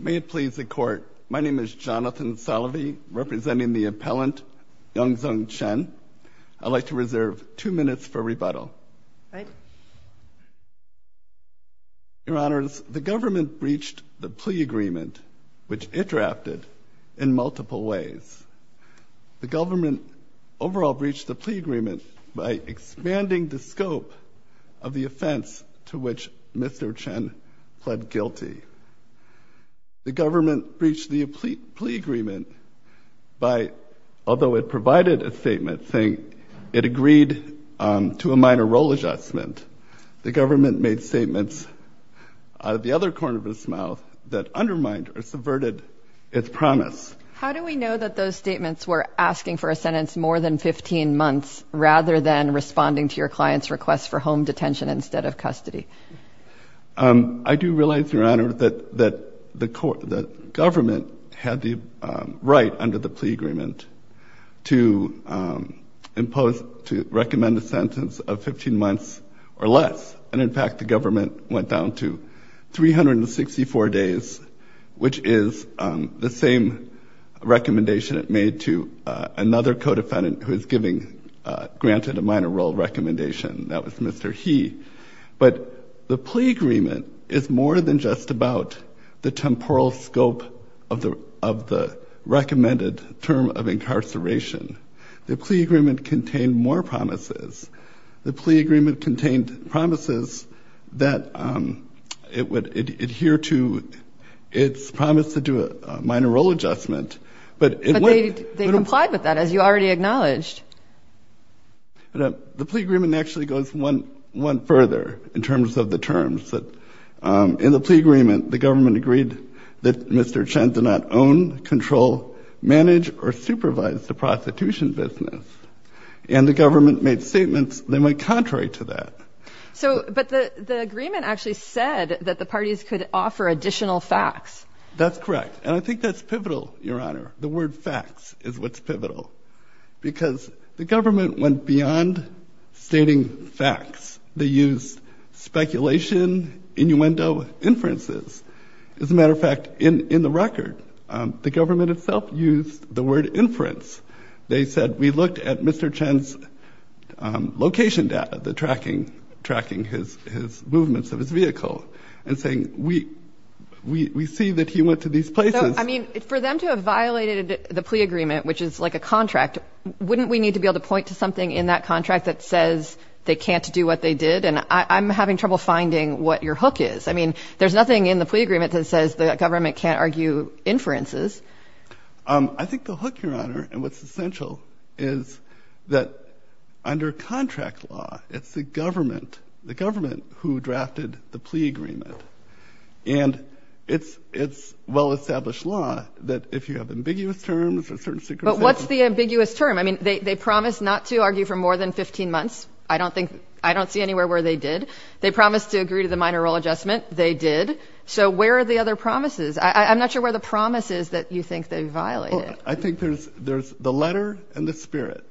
May it please the court. My name is Jonathan Salovey, representing the appellant, Yunzhong Chen. I'd like to reserve two minutes for rebuttal. Your honors, the government breached the plea agreement, which it drafted in multiple ways. The government overall breached the plea agreement by expanding the scope of the offense to which Mr. Chen pled guilty. The government breached the plea agreement by, although it provided a statement saying it agreed to a minor role adjustment, the government made statements out of the other corner of its mouth that undermined or subverted its promise. How do we know that those statements were asking for a sentence more than 15 months rather than responding to your client's request for home detention instead of custody? I do realize, your honor, that the government had the right under the plea agreement to impose, to recommend a sentence of 15 months or less. And in fact, the government went down to 364 days, which is the same recommendation it made to another co-defendant who is giving granted a minor role recommendation. That was Mr. He. But the plea agreement is more than just about the temporal scope of the of the recommended term of incarceration. The plea agreement contained more promises. The plea agreement contained promises that it would adhere to its promise to do a minor role adjustment. But they complied with that, as you already acknowledged. The plea agreement actually goes one further in terms of the terms that in the plea agreement, the government agreed that Mr. Chen did not own, control, manage or supervise the prostitution business. And the government made statements that went contrary to that. So, but the agreement actually said that the parties could offer additional facts. That's correct. And I think that's pivotal, your honor. The word facts is what's pivotal, because the government went beyond stating facts. They used speculation, innuendo, inferences. As a matter of fact, in the record, the government itself used the word inference. They said, we looked at Mr. Chen's location data, the tracking, tracking his movements of his vehicle and saying, we see that he went to these places. I mean, for them to have violated the plea agreement, which is like a contract, wouldn't we need to be able to point to something in that contract that says they can't do what they did? And I'm having trouble finding what your hook is. I mean, there's nothing in the plea agreement that says the government can't argue inferences. I think the hook, your honor, and what's essential is that under contract law, it's the government, the government who drafted the plea agreement. And it's well-established law that if you have ambiguous terms or certain secrecy. But what's the ambiguous term? I mean, they promised not to argue for more than 15 months. I don't think, I don't see anywhere where they did. They promised to agree to the minor role adjustment. They did. So where are the other promises? I'm not sure where the promise is that you think they violated. I think there's, there's the letter and the spirit.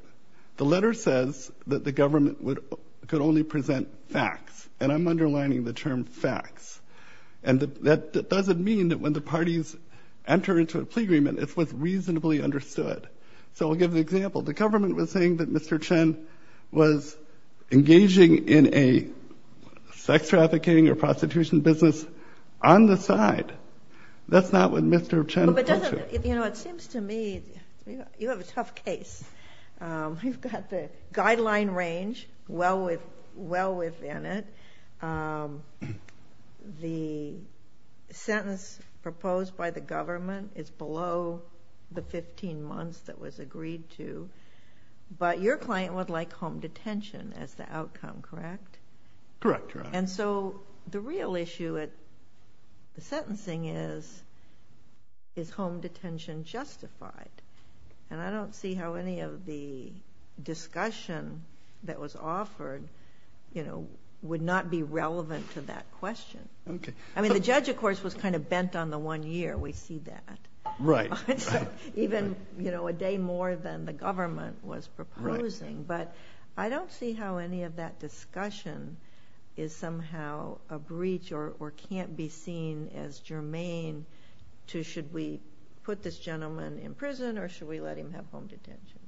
The letter says that the government could only present facts. And I'm underlining the term facts. And that doesn't mean that when the parties enter into a plea agreement, it was reasonably understood. So we'll give an example. The government was saying that Mr. Chen was engaging in a sex trafficking or prostitution business on the side. That's not what Mr. Chen. You know, it seems to me you have a tough case. You've got the guideline range well within it. The sentence proposed by the government is below the 15 months that was agreed to. But your client would like home detention as the outcome, correct? Correct. And so the real issue at the sentencing is, is home detention justified? And I don't see how any of the discussion that was offered, you know, would not be relevant to that question. Okay. I mean, the judge, of course, was kind of bent on the one year. We see that. Right. Even, you know, a day more than the government was proposing. But I don't see how any of that discussion is somehow a breach or can't be seen as germane to should we put this or should we let him have home detention?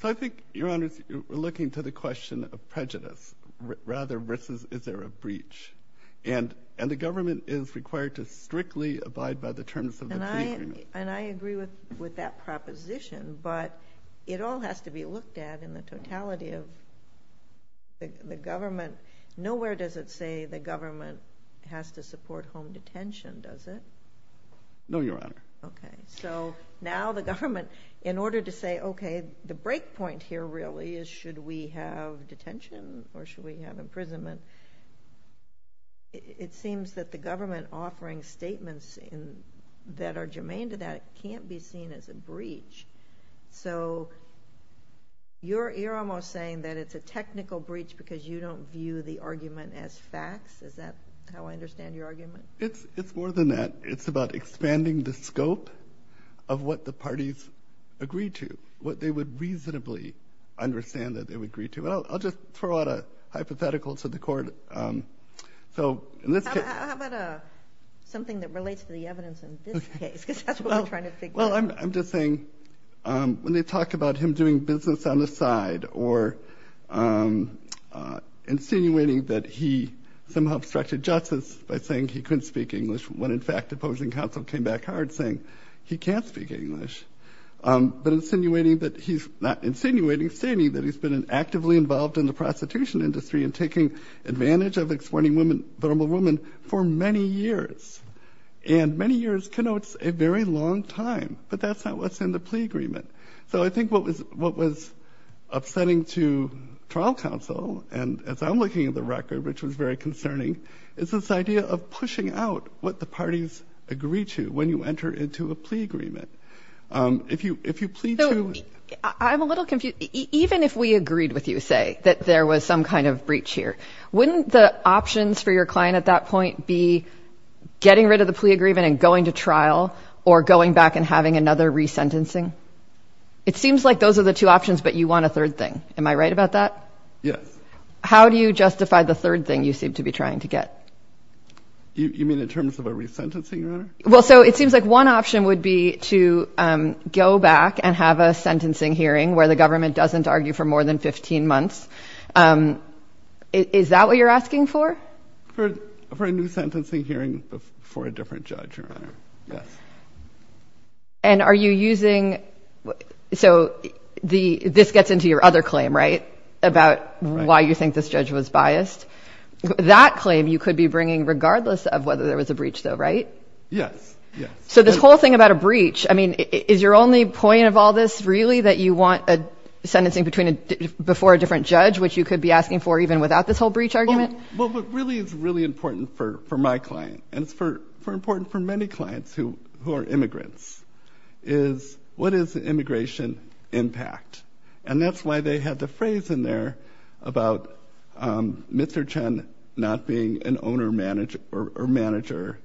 So I think, Your Honor, we're looking to the question of prejudice rather versus is there a breach. And the government is required to strictly abide by the terms of the agreement. And I agree with that proposition, but it all has to be looked at in the totality of the government. Nowhere does it say the government has to support home detention, does it? No, Your Honor. Okay. So now the government, in order to say, okay, the break point here really is should we have detention or should we have imprisonment? It seems that the government offering statements that are germane to that can't be seen as a breach. So you're almost saying that it's a technical breach because you don't view the net. It's about expanding the scope of what the parties agreed to, what they would reasonably understand that they would agree to. I'll just throw out a hypothetical to the court. So how about something that relates to the evidence in this case? Because that's what I'm trying to figure out. Well, I'm just saying when they talk about him doing business on the side or insinuating that he somehow obstructed justice by saying he couldn't speak English when in fact opposing counsel came back hard saying he can't speak English. But insinuating that he's not insinuating, stating that he's been actively involved in the prostitution industry and taking advantage of exploiting vulnerable women for many years. And many years connotes a very long time, but that's not what's in the plea agreement. So I think what was upsetting to trial counsel, and as I'm looking at the record, which was very concerning, is this idea of pushing out what the parties agreed to when you enter into a plea agreement. If you plead to... I'm a little confused. Even if we agreed with you, say, that there was some kind of breach here, wouldn't the options for your client at that point be getting rid of the plea agreement and going to trial or going back and having another resentencing? It seems like those are the two options, but you want a third thing. Am I right about that? Yes. How do you justify the third thing you seem to be trying to get? You mean in terms of a resentencing, Your Honor? Well, so it seems like one option would be to go back and have a sentencing hearing where the government doesn't argue for more than 15 months. Is that what you're asking for? For a new sentencing hearing for a different judge, Your Honor. Yes. And are you using... So this gets into your other claim, about why you think this judge was biased. That claim you could be bringing regardless of whether there was a breach, though, right? Yes. So this whole thing about a breach, I mean, is your only point of all this really that you want a sentencing before a different judge, which you could be asking for even without this whole breach argument? Well, but really, it's really important for my client, and it's important for many clients who are immigrants, is what is the immigration impact? And that's why they had the phrase in there about Mr. Chen not being an owner or manager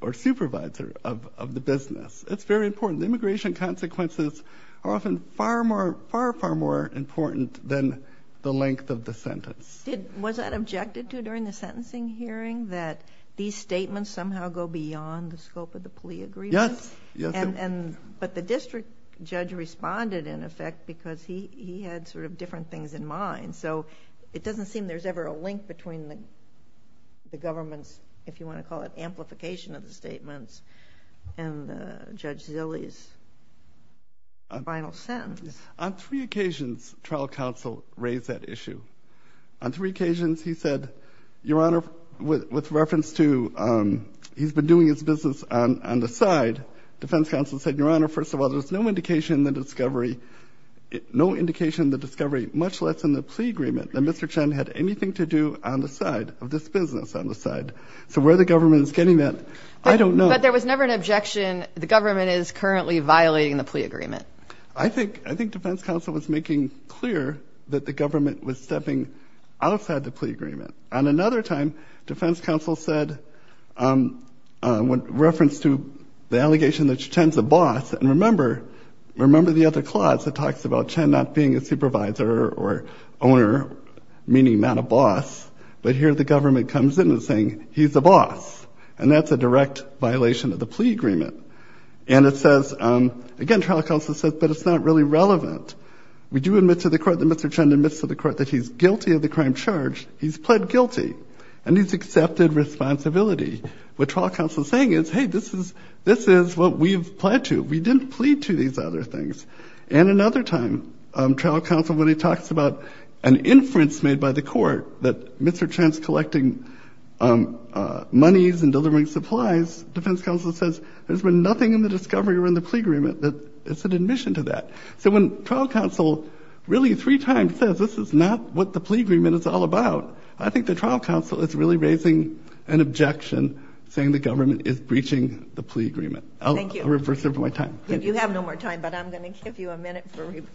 or supervisor of the business. It's very important. Immigration consequences are often far, far more important than the length of the sentence. Was that objected to during the sentencing hearing, that these statements somehow go beyond the scope of plea agreements? Yes. But the district judge responded, in effect, because he had sort of different things in mind. So it doesn't seem there's ever a link between the government's, if you want to call it, amplification of the statements and Judge Zille's final sentence. On three occasions, trial counsel raised that issue. On three occasions, he said, Your Honor, with reference to, he's been doing his business on the side. Defense counsel said, Your Honor, first of all, there's no indication that discovery, no indication that discovery, much less in the plea agreement, that Mr. Chen had anything to do on the side of this business on the side. So where the government is getting that, I don't know. But there was never an objection. The government is currently violating the plea agreement. I think, I think defense counsel was making clear that the government was stepping outside the plea agreement. On another time, defense counsel said, with reference to the allegation that Chen's a boss. And remember, remember the other clause that talks about Chen not being a supervisor or owner, meaning not a boss. But here the government comes in and saying he's the boss. And that's a direct violation of the plea agreement. And it says, again, trial counsel says, but it's not really relevant. We do admit to the court that Mr. Chen admits to the court that he's guilty of the crime charge. He's pled guilty. And he's accepted responsibility. What trial counsel is saying is, hey, this is, this is what we've pled to. We didn't plead to these other things. And another time, trial counsel, when he talks about an inference made by the court that Mr. Chen's collecting monies and delivering supplies, defense counsel says, there's been nothing in the discovery or in the plea agreement that is an admission to that. So when trial counsel really three times says, this is not what the plea agreement is all about. I think the trial counsel is really raising an objection, saying the government is breaching the plea agreement. I'll reverse it for my time. You have no more time, but I'm going to give you a minute. Good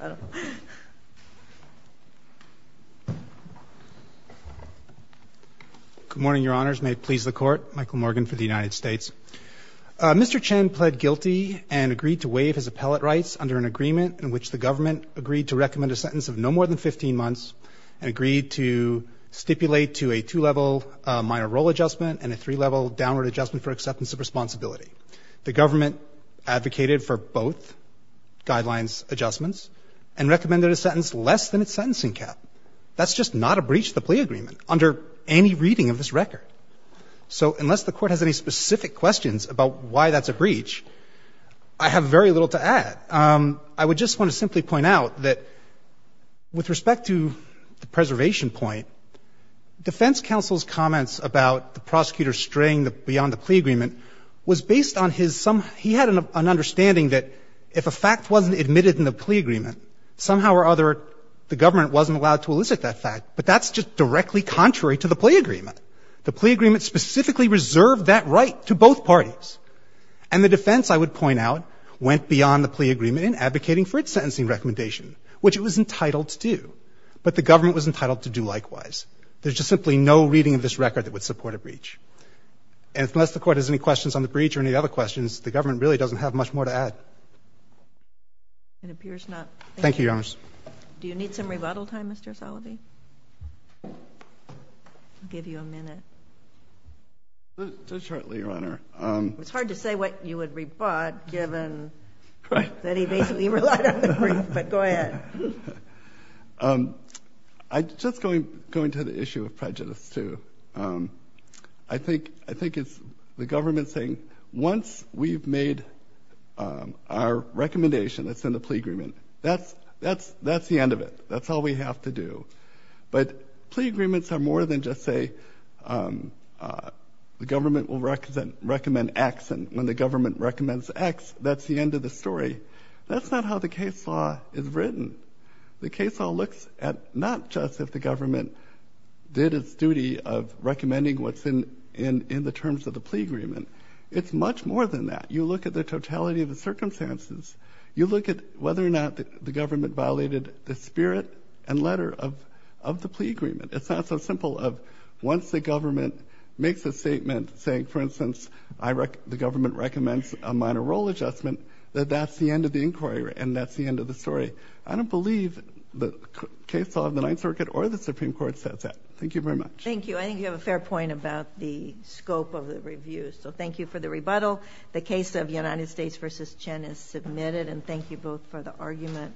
morning, Your Honors. May it please the court. Michael Morgan for the United States. Mr. Chen pled guilty and agreed to waive his appellate rights under an agreement in which the government agreed to recommend a sentence of no more than 15 months and agreed to stipulate to a two-level minor role adjustment and a three-level downward adjustment for acceptance of responsibility. The government advocated for both guidelines adjustments and recommended a sentence less than its sentencing cap. That's just not a breach of the plea agreement under any reading of this record. So unless the court has any specific questions about why that's a breach, I have very little to add. I would just want to simply point out that with respect to the preservation point, defense counsel's comments about the prosecutor straying beyond the plea agreement was based on his some – he had an understanding that if a fact wasn't admitted in the plea agreement, somehow or other the government wasn't allowed to elicit that fact, but that's just directly contrary to the plea agreement. The plea agreement specifically reserved that right to both parties. And the defense, I would point out, went beyond the plea agreement in advocating for its sentencing recommendation, which it was entitled to do, but the government was entitled to do likewise. There's just simply no reading of this record that would support a breach. And unless the court has any questions on the breach or any other questions, the government really doesn't have much more to add. It appears not. Thank you, Your Honor. Do you need some rebuttal time, Mr. Salovey? I'll give you a minute. Just shortly, Your Honor. It's hard to say what you would rebut, given that he basically relied on the brief, but go ahead. I'm just going to the issue of prejudice, too. I think it's the government saying, once we've made our recommendation that's in the plea agreement, that's the end of it. That's all we have to do. But plea agreements are more than just say the government will recommend X, and when the government recommends X, that's the case law is written. The case law looks at not just if the government did its duty of recommending what's in the terms of the plea agreement. It's much more than that. You look at the totality of the circumstances. You look at whether or not the government violated the spirit and letter of the plea agreement. It's not so simple of once the government makes a statement saying, for instance, the government recommends a minor role adjustment, that that's the end of the inquiry, and that's the end of the story. I don't believe the case law of the Ninth Circuit or the Supreme Court says that. Thank you very much. Thank you. I think you have a fair point about the scope of the review. So thank you for the rebuttal. The case of United States v. Chen is submitted, and thank you both for the argument.